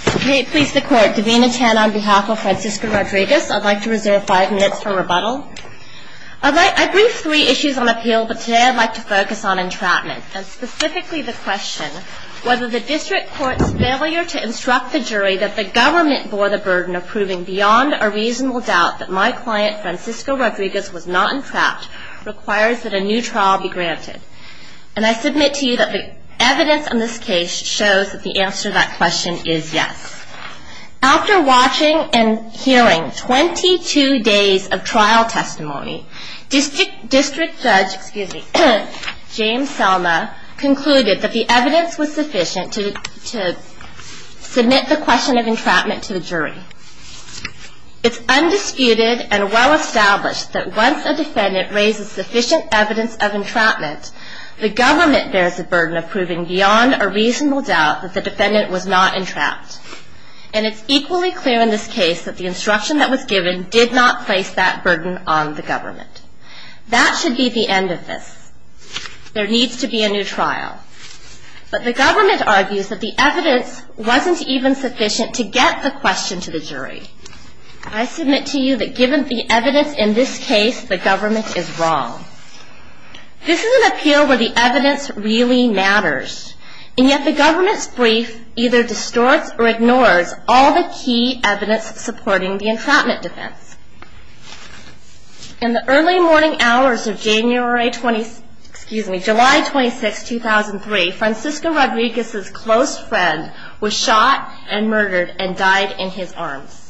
I'd like to reserve five minutes for rebuttal. I briefed three issues on appeal, but today I'd like to focus on entrapment, and specifically the question whether the district court's failure to instruct the jury that the government bore the burden of proving beyond a reasonable doubt that my client, Francisco Rodriguez, was not entrapped requires that a new trial be granted. And I submit to you that the evidence in this case shows that the answer to that question is yes. After watching and hearing 22 days of trial testimony, district judge James Selma concluded that the evidence was sufficient to submit the question of entrapment to the jury. It's undisputed and well established that once a defendant raises sufficient evidence of entrapment, the government bears the burden of proving beyond a reasonable doubt that the defendant was not entrapped. And it's equally clear in this case that the instruction that was given did not place that burden on the government. That should be the end of this. There needs to be a new trial. But the government argues that the evidence wasn't even sufficient to get the question to the jury. I submit to you that given the evidence in this case, the government is wrong. This is an appeal where the evidence really matters. And yet the government's brief either distorts or ignores all the key evidence supporting the entrapment defense. In the early morning hours of July 26, 2003, Francisco Rodriguez's close friend was shot and murdered and died in his arms.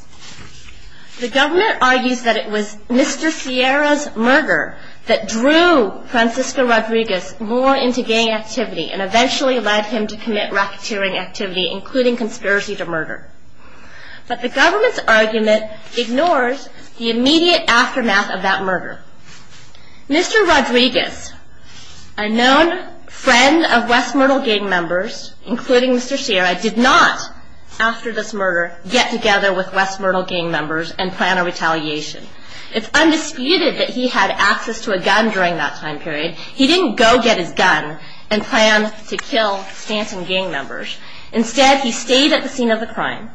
The government argues that it was Mr. Sierra's murder that drew Francisco Rodriguez more into gang activity and eventually led him to commit racketeering activity, including conspiracy to murder. But the government's argument ignores the immediate aftermath of that murder. Mr. Rodriguez, a known friend of West Myrtle gang members, including Mr. Sierra, did not, after this murder, get together with West Myrtle gang members and plan a retaliation. It's undisputed that he had access to a gun during that time period. He didn't go get his gun and plan to kill Stanton gang members. Instead, he stayed at the scene of the crime.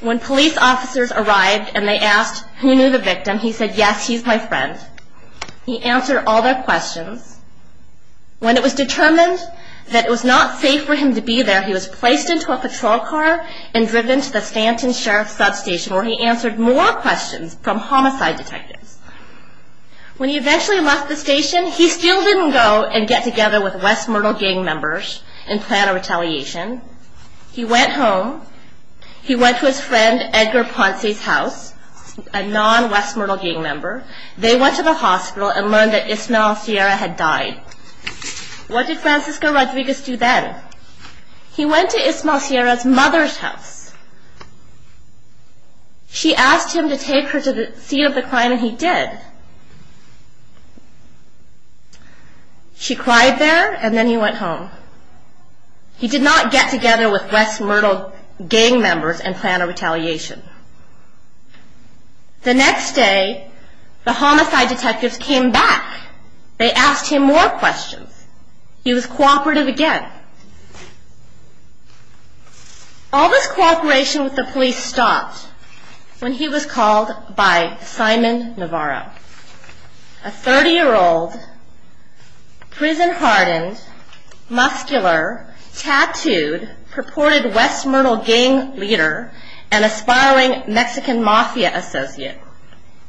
When police officers arrived and they asked who knew the victim, he said, yes, he's my friend. He answered all their questions. When it was determined that it was not safe for him to be there, he was placed into a patrol car and driven to the Stanton Sheriff's Substation where he answered more questions from homicide detectives. When he eventually left the station, he still didn't go and get together with West Myrtle gang members and plan a retaliation. He went home. He went to his friend Edgar Ponce's house, a non-West Myrtle gang member. They went to the hospital and learned that Ismael Sierra had died. What did Francisco Rodriguez do then? He went to Ismael Sierra's mother's house. She asked him to take her to the scene of the crime and he did. She cried there and then he went home. He did not get together with West Myrtle gang members and plan a retaliation. The next day, the homicide detectives came back. They asked him more questions. He was cooperative again. All this cooperation with the police stopped when he was called by Simon Navarro, a 30-year-old, prison-hardened, muscular, tattooed, purported West Myrtle gang leader, and a spiral of blood. He was a murdering Mexican Mafia associate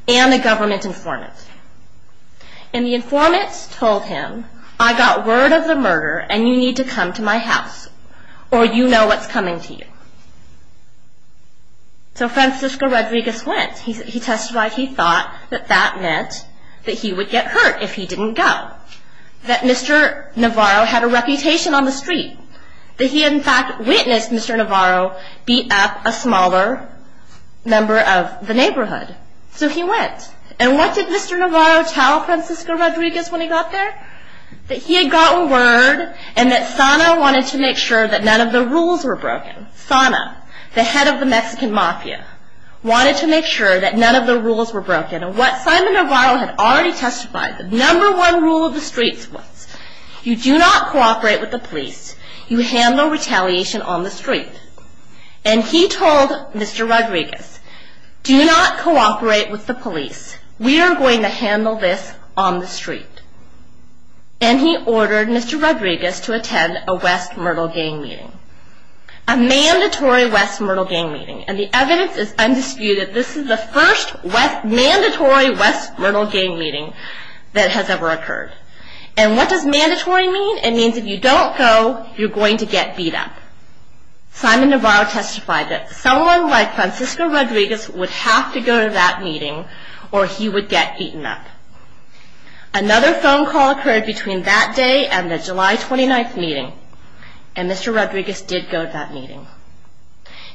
and a government informant. The informant told him, I got word of the murder and you need to come to my house or you know what's coming to you. So Francisco Rodriguez went. He testified he thought that that meant that he would get hurt if he didn't go. That Mr. Navarro had a reputation on the street. That he in fact witnessed Mr. Navarro beat up a smaller member of the neighborhood. So he went. And what did Mr. Navarro tell Francisco Rodriguez when he got there? That he had gotten word and that SANA wanted to make sure that none of the rules were broken. SANA, the head of the Mexican Mafia, wanted to make sure that none of the rules were broken. And what Simon Navarro had already testified, the number one rule of the streets was, you do not cooperate with the police, you handle retaliation on the street. And he told Mr. Rodriguez, do not cooperate with the police, we are going to handle this on the street. And he ordered Mr. Rodriguez to attend a West Myrtle gang meeting. A mandatory West Myrtle gang meeting. And the evidence is undisputed, this is the first mandatory West Myrtle gang meeting that has ever occurred. And what does mandatory mean? It means if you don't go, you're going to get beat up. And at that meeting, Simon Navarro testified that someone like Francisco Rodriguez would have to go to that meeting or he would get beaten up. Another phone call occurred between that day and the July 29th meeting. And Mr. Rodriguez did go to that meeting.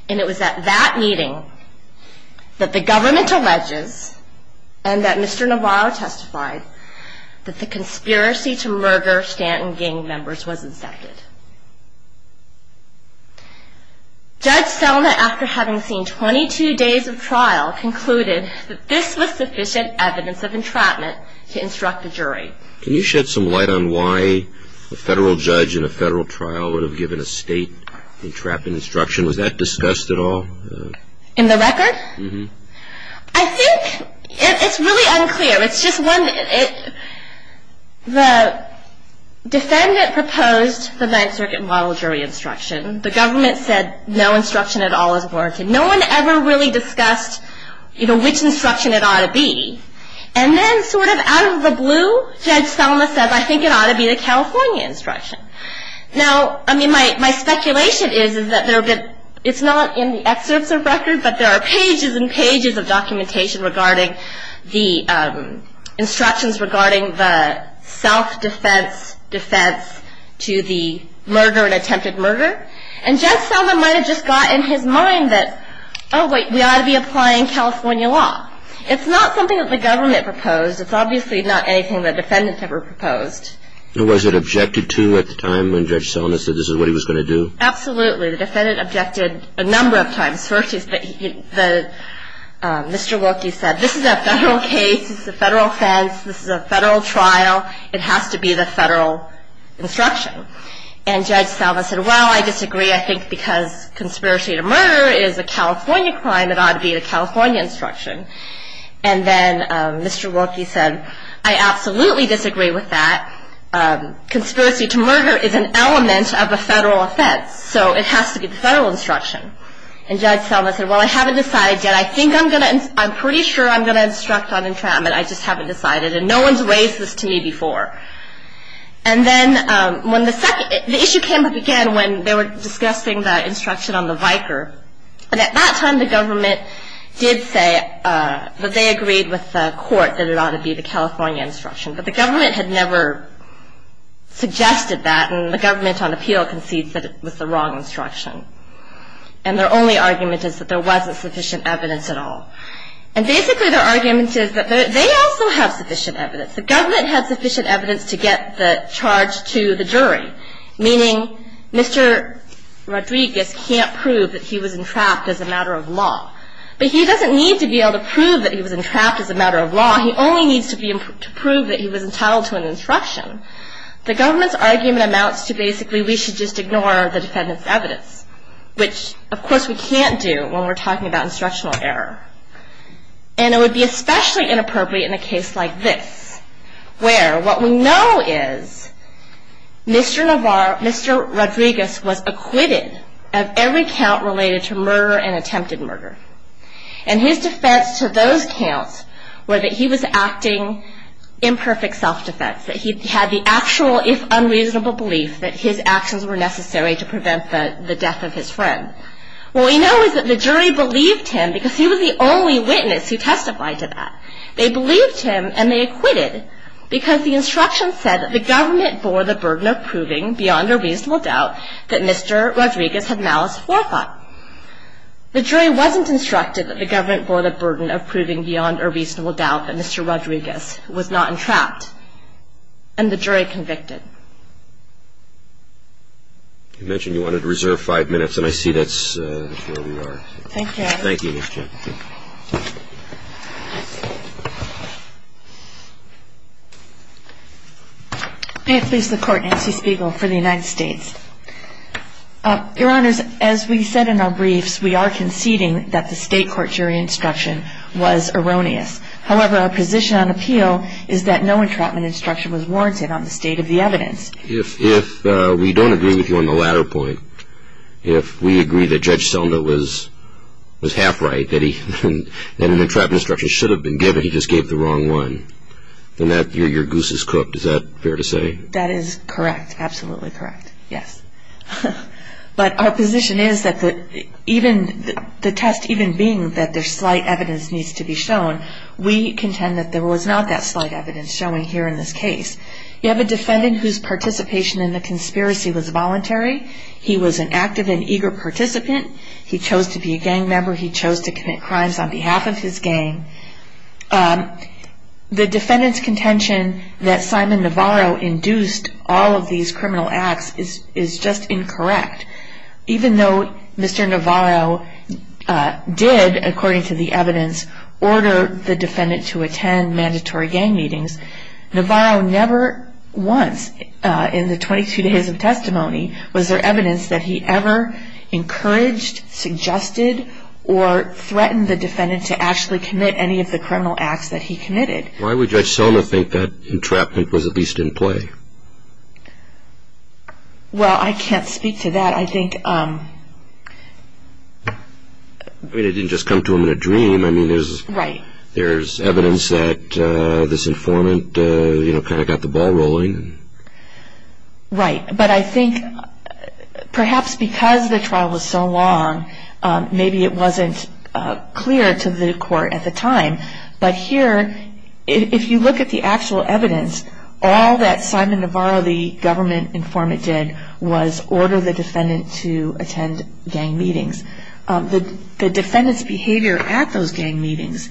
And it was at that meeting that the government alleges, and that Mr. Navarro testified, that the conspiracy to murder Stanton gang members was incepted. Judge Selma, after having seen 22 days of trial, concluded that this was sufficient evidence of entrapment to instruct a jury. Can you shed some light on why a federal judge in a federal trial would have given a state entrapment instruction? Was that discussed at all? In the record? I think it's really unclear. The defendant proposed the Ninth Circuit model jury instruction. The government said no instruction at all is warranted. No one ever really discussed which instruction it ought to be. And then sort of out of the blue, Judge Selma said I think it ought to be the California instruction. Now, I mean, my speculation is that it's not in the excerpts of record, but there are pages and pages of documentation regarding the instructions regarding the self-defense defense to the murder and attempted murder. And Judge Selma might have just got in his mind that, oh, wait, we ought to be applying California law. It's not something that the government proposed. It's obviously not anything that defendants ever proposed. Was it objected to at the time when Judge Selma said this is what he was going to do? Absolutely. The defendant objected a number of times. First, Mr. Wilkie said this is a federal case. This is a federal offense. This is a federal trial. It has to be the federal instruction. And Judge Selma said, well, I disagree. I think because conspiracy to murder is a California crime, it ought to be the California instruction. And then Mr. Wilkie said, I absolutely disagree with that. Conspiracy to murder is an element of a federal offense, so it has to be the federal instruction. And Judge Selma said, well, I haven't decided yet. I think I'm going to, I'm pretty sure I'm going to instruct on entrapment. I just haven't decided. And no one's raised this to me before. And then when the second, the issue came up again when they were discussing the instruction on the Viker. And at that time, the government did say that they agreed with the court that it ought to be the California instruction. But the government had never suggested that. And the government on appeal concedes that it was the wrong instruction. And their only argument is that there wasn't sufficient evidence at all. And basically their argument is that they also have sufficient evidence. The government had sufficient evidence to get the charge to the jury, meaning Mr. Rodriguez can't prove that he was entrapped as a matter of law. But he doesn't need to be able to prove that he was entrapped as a matter of law. He only needs to prove that he was entitled to an instruction. The government's argument amounts to basically we should just ignore the defendant's evidence, which of course we can't do when we're talking about instructional error. And it would be especially inappropriate in a case like this, where what we know is Mr. Rodriguez was acquitted of every count related to murder and attempted murder. And his defense to those counts were that he was acting in perfect self-defense, that he had the actual, if unreasonable, belief that his actions were necessary to prevent the death of his friend. What we know is that the jury believed him because he was the only witness who testified to that. They believed him and they acquitted because the instruction said that the government bore the burden of proving, beyond a reasonable doubt, that Mr. Rodriguez had malice forethought. The jury wasn't instructed that the government bore the burden of proving beyond a reasonable doubt that Mr. Rodriguez was not entrapped. And the jury convicted. You mentioned you wanted to reserve five minutes, and I see that's where we are. Thank you, Your Honor. Thank you, Ms. Chapman. May it please the Court, Nancy Spiegel for the United States. Your Honors, as we said in our briefs, we are conceding that the state court jury instruction was erroneous. However, our position on appeal is that no entrapment instruction was warranted on the state of the evidence. If we don't agree with you on the latter point, if we agree that Judge Selma was half right, that an entrapment instruction should have been given, he just gave the wrong one, then your goose is cooked. Is that fair to say? That is correct. Absolutely correct. Yes. But our position is that the test even being that there's slight evidence needs to be shown, we contend that there was not that slight evidence shown here in this case. You have a defendant whose participation in the conspiracy was voluntary. He was an active and eager participant. He chose to be a gang member. He chose to commit crimes on behalf of his gang. The defendant's contention that Simon Navarro induced all of these criminal acts is just incorrect. Even though Mr. Navarro did, according to the evidence, order the defendant to attend mandatory gang meetings, Navarro never once in the 22 days of testimony was there evidence that he ever encouraged, suggested, or threatened the defendant to actually commit any of the criminal acts that he committed. Why would Judge Selma think that entrapment was at least in play? Well, I can't speak to that. I think... I mean, it didn't just come to him in a dream. I mean, there's evidence that this informant kind of got the ball rolling. Right. But I think perhaps because the trial was so long, maybe it wasn't clear to the court at the time. But here, if you look at the actual evidence, all that Simon Navarro, the government informant, did was order the defendant to attend gang meetings. The defendant's behavior at those gang meetings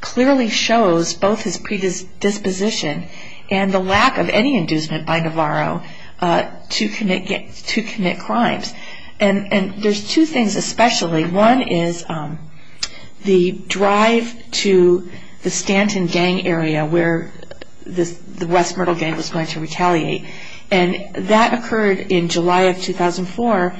clearly shows both his predisposition and the lack of any inducement by Navarro to commit crimes. And there's two things especially. One is the drive to the Stanton gang area where the West Myrtle gang was going to retaliate. And that occurred in July of 2004.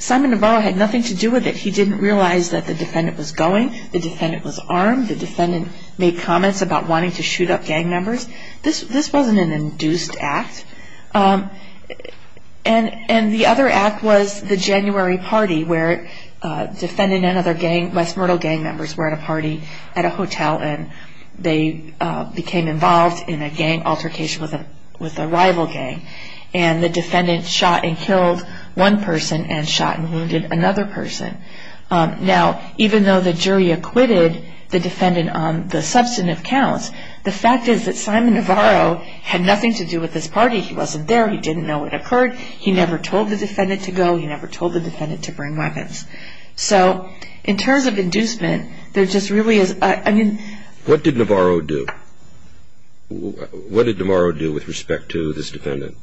Simon Navarro had nothing to do with it. He didn't realize that the defendant was going. The defendant was armed. The defendant made comments about wanting to shoot up gang members. This wasn't an induced act. And the other act was the January party where a defendant and other West Myrtle gang members were at a party at a hotel. And they became involved in a gang altercation with a rival gang. And the defendant shot and killed one person and shot and wounded another person. Now, even though the jury acquitted the defendant on the substantive counts, the fact is that Simon Navarro had nothing to do with this party. He wasn't there. He didn't know it occurred. He never told the defendant to go. He never told the defendant to bring weapons. So, in terms of inducement, there just really is... What did Navarro do? What did Navarro do with respect to this defendant?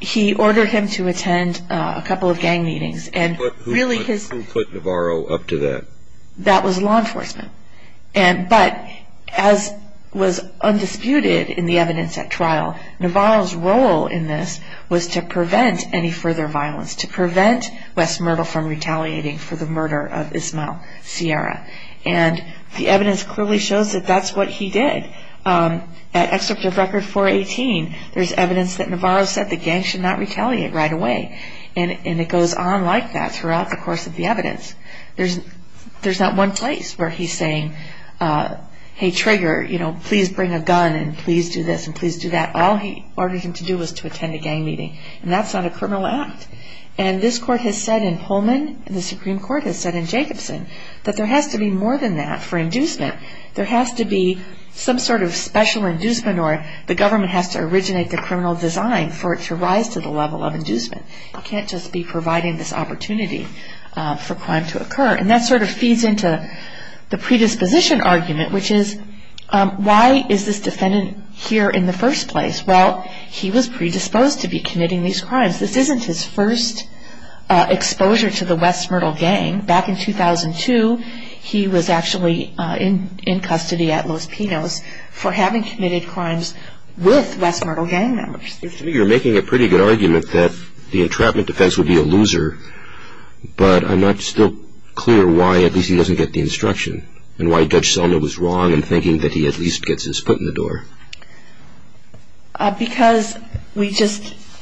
He ordered him to attend a couple of gang meetings. Who put Navarro up to that? That was law enforcement. But, as was undisputed in the evidence at trial, Navarro's role in this was to prevent any further violence. To prevent West Myrtle from retaliating for the murder of Ismael Sierra. And the evidence clearly shows that that's what he did. At Excerpt of Record 418, there's evidence that Navarro said the gang should not retaliate right away. And it goes on like that throughout the course of the evidence. There's not one place where he's saying, hey, Trigger, please bring a gun and please do this and please do that. All he ordered him to do was to attend a gang meeting. And that's not a criminal act. And this court has said in Pullman, and the Supreme Court has said in Jacobson, that there has to be more than that for inducement. There has to be some sort of special inducement or the government has to originate the criminal design for it to rise to the level of inducement. You can't just be providing this opportunity for crime to occur. And that sort of feeds into the predisposition argument, which is, why is this defendant here in the first place? Well, he was predisposed to be committing these crimes. This isn't his first exposure to the West Myrtle gang. Back in 2002, he was actually in custody at Los Pinos for having committed crimes with West Myrtle gang members. You're making a pretty good argument that the entrapment defense would be a loser. But I'm not still clear why at least he doesn't get the instruction and why Judge Selma was wrong in thinking that he at least gets his foot in the door. Because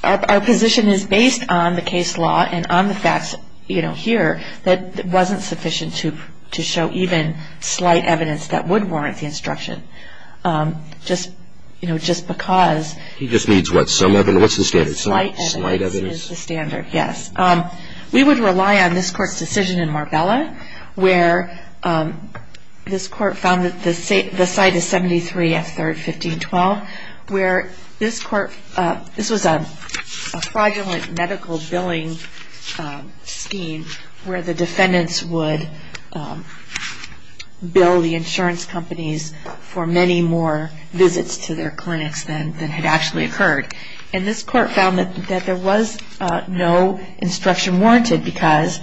our position is based on the case law and on the facts here that it wasn't sufficient to show even slight evidence that would warrant the instruction. Just because... He just needs what? Some evidence? What's the standard? Slight evidence is the standard, yes. We would rely on this court's decision in Marbella, where this court found that the site is 73F3rd, 1512. This was a fraudulent medical billing scheme where the defendants would bill the insurance companies for many more visits to their clinics than had actually occurred. And this court found that there was no instruction warranted because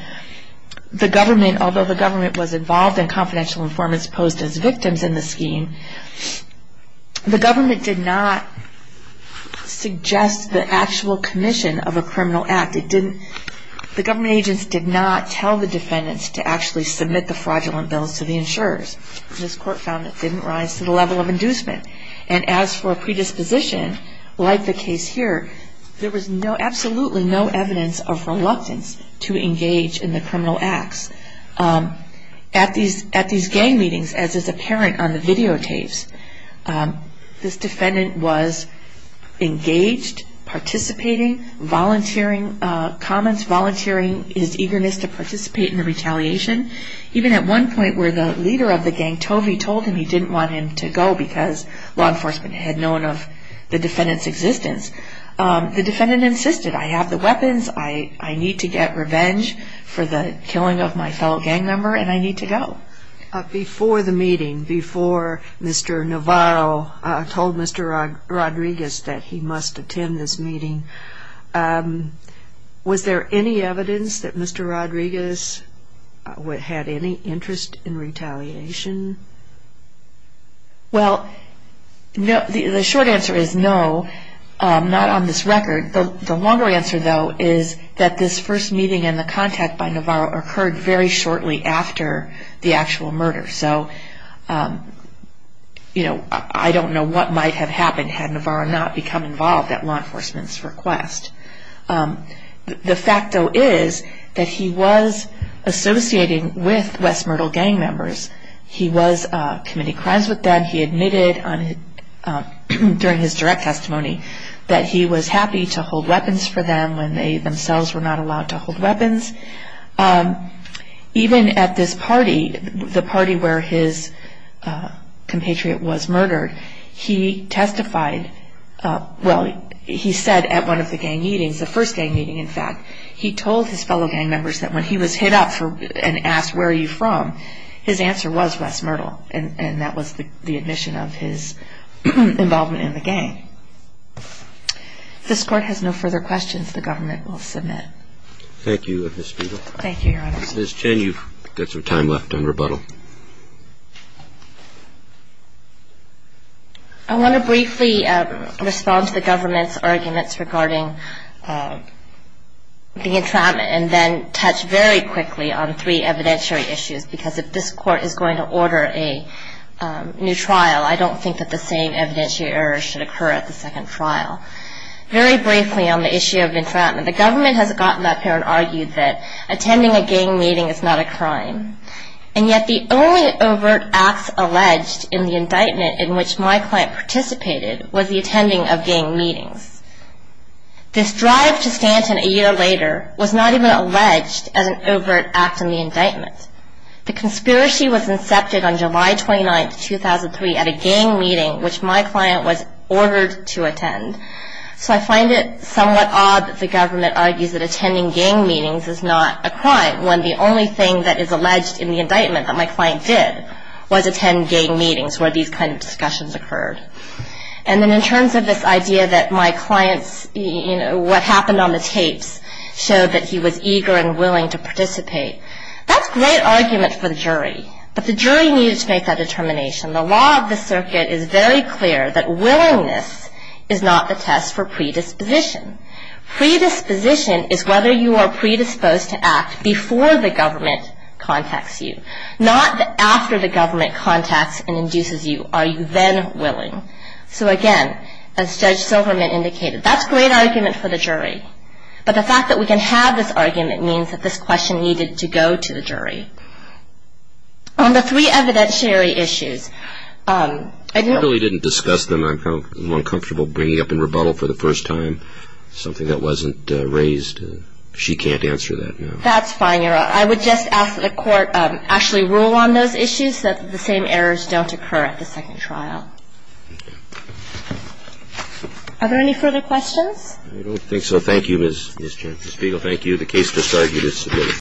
the government, although the government was involved in confidential informants posed as victims in the scheme, the government did not suggest the actual commission of a criminal act. The government agents did not tell the defendants to actually submit the fraudulent bills to the insurers. This court found it didn't rise to the level of inducement. And as for predisposition, like the case here, there was absolutely no evidence of reluctance to engage in the criminal acts. At these gang meetings, as is apparent on the videotapes, this defendant was engaged, participating, volunteering comments, volunteering his eagerness to participate in the retaliation. Even at one point where the leader of the gang, Tovey, told him he didn't want him to go because law enforcement had known of the defendant's existence, the defendant insisted, I have the weapons, I need to get revenge for the killing of my fellow gang member, and I need to go. Before the meeting, before Mr. Navarro told Mr. Rodriguez that he must attend this meeting, was there any evidence that Mr. Rodriguez had any interest in retaliation? Well, the short answer is no, not on this record. The longer answer, though, is that this first meeting and the contact by Navarro occurred very shortly after the actual murder. So, you know, I don't know what might have happened had Navarro not become involved at law enforcement's request. The fact, though, is that he was associating with West Myrtle gang members. He was committing crimes with them. He admitted during his direct testimony that he was happy to hold weapons for them when they themselves were not allowed to hold weapons. Even at this party, the party where his compatriot was murdered, he testified, well, he said at one of the gang meetings, the first gang meeting, in fact, he told his fellow gang members that when he was hit up and asked where are you from, his answer was West Myrtle, and that was the admission of his involvement in the gang. If this Court has no further questions, the government will submit. Thank you, Ms. Speedle. Thank you, Your Honor. Ms. Chen, you've got some time left on rebuttal. I want to briefly respond to the government's arguments regarding the entrapment and then touch very quickly on three evidentiary issues, because if this Court is going to order a new trial, I don't think that the same evidentiary error should occur at the second trial. Very briefly on the issue of entrapment, the government has gotten up here and argued that attending a gang meeting is not a crime, and yet the only overt acts alleged in the indictment in which my client participated was the attending of gang meetings. This drive to Stanton a year later was not even alleged as an overt act in the indictment. The conspiracy was incepted on July 29, 2003 at a gang meeting which my client was ordered to attend. So I find it somewhat odd that the government argues that attending gang meetings is not a crime when the only thing that is alleged in the indictment that my client did was attend gang meetings where these kinds of discussions occurred. And then in terms of this idea that my client's, you know, what happened on the tapes showed that he was eager and willing to participate, that's a great argument for the jury, but the jury needed to make that determination. The law of the circuit is very clear that willingness is not the test for predisposition. Predisposition is whether you are predisposed to act before the government contacts you, not after the government contacts and induces you. Are you then willing? So again, as Judge Silverman indicated, that's a great argument for the jury, but the fact that we can have this argument means that this question needed to go to the jury. On the three evidentiary issues, I don't know. I really didn't discuss them. I'm uncomfortable bringing up in rebuttal for the first time something that wasn't raised. She can't answer that now. That's fine. I would just ask that the court actually rule on those issues so that the same errors don't occur at the second trial. Are there any further questions? I don't think so. Thank you, Ms. Chancellor Spiegel. Thank you. The case is argued as submitted.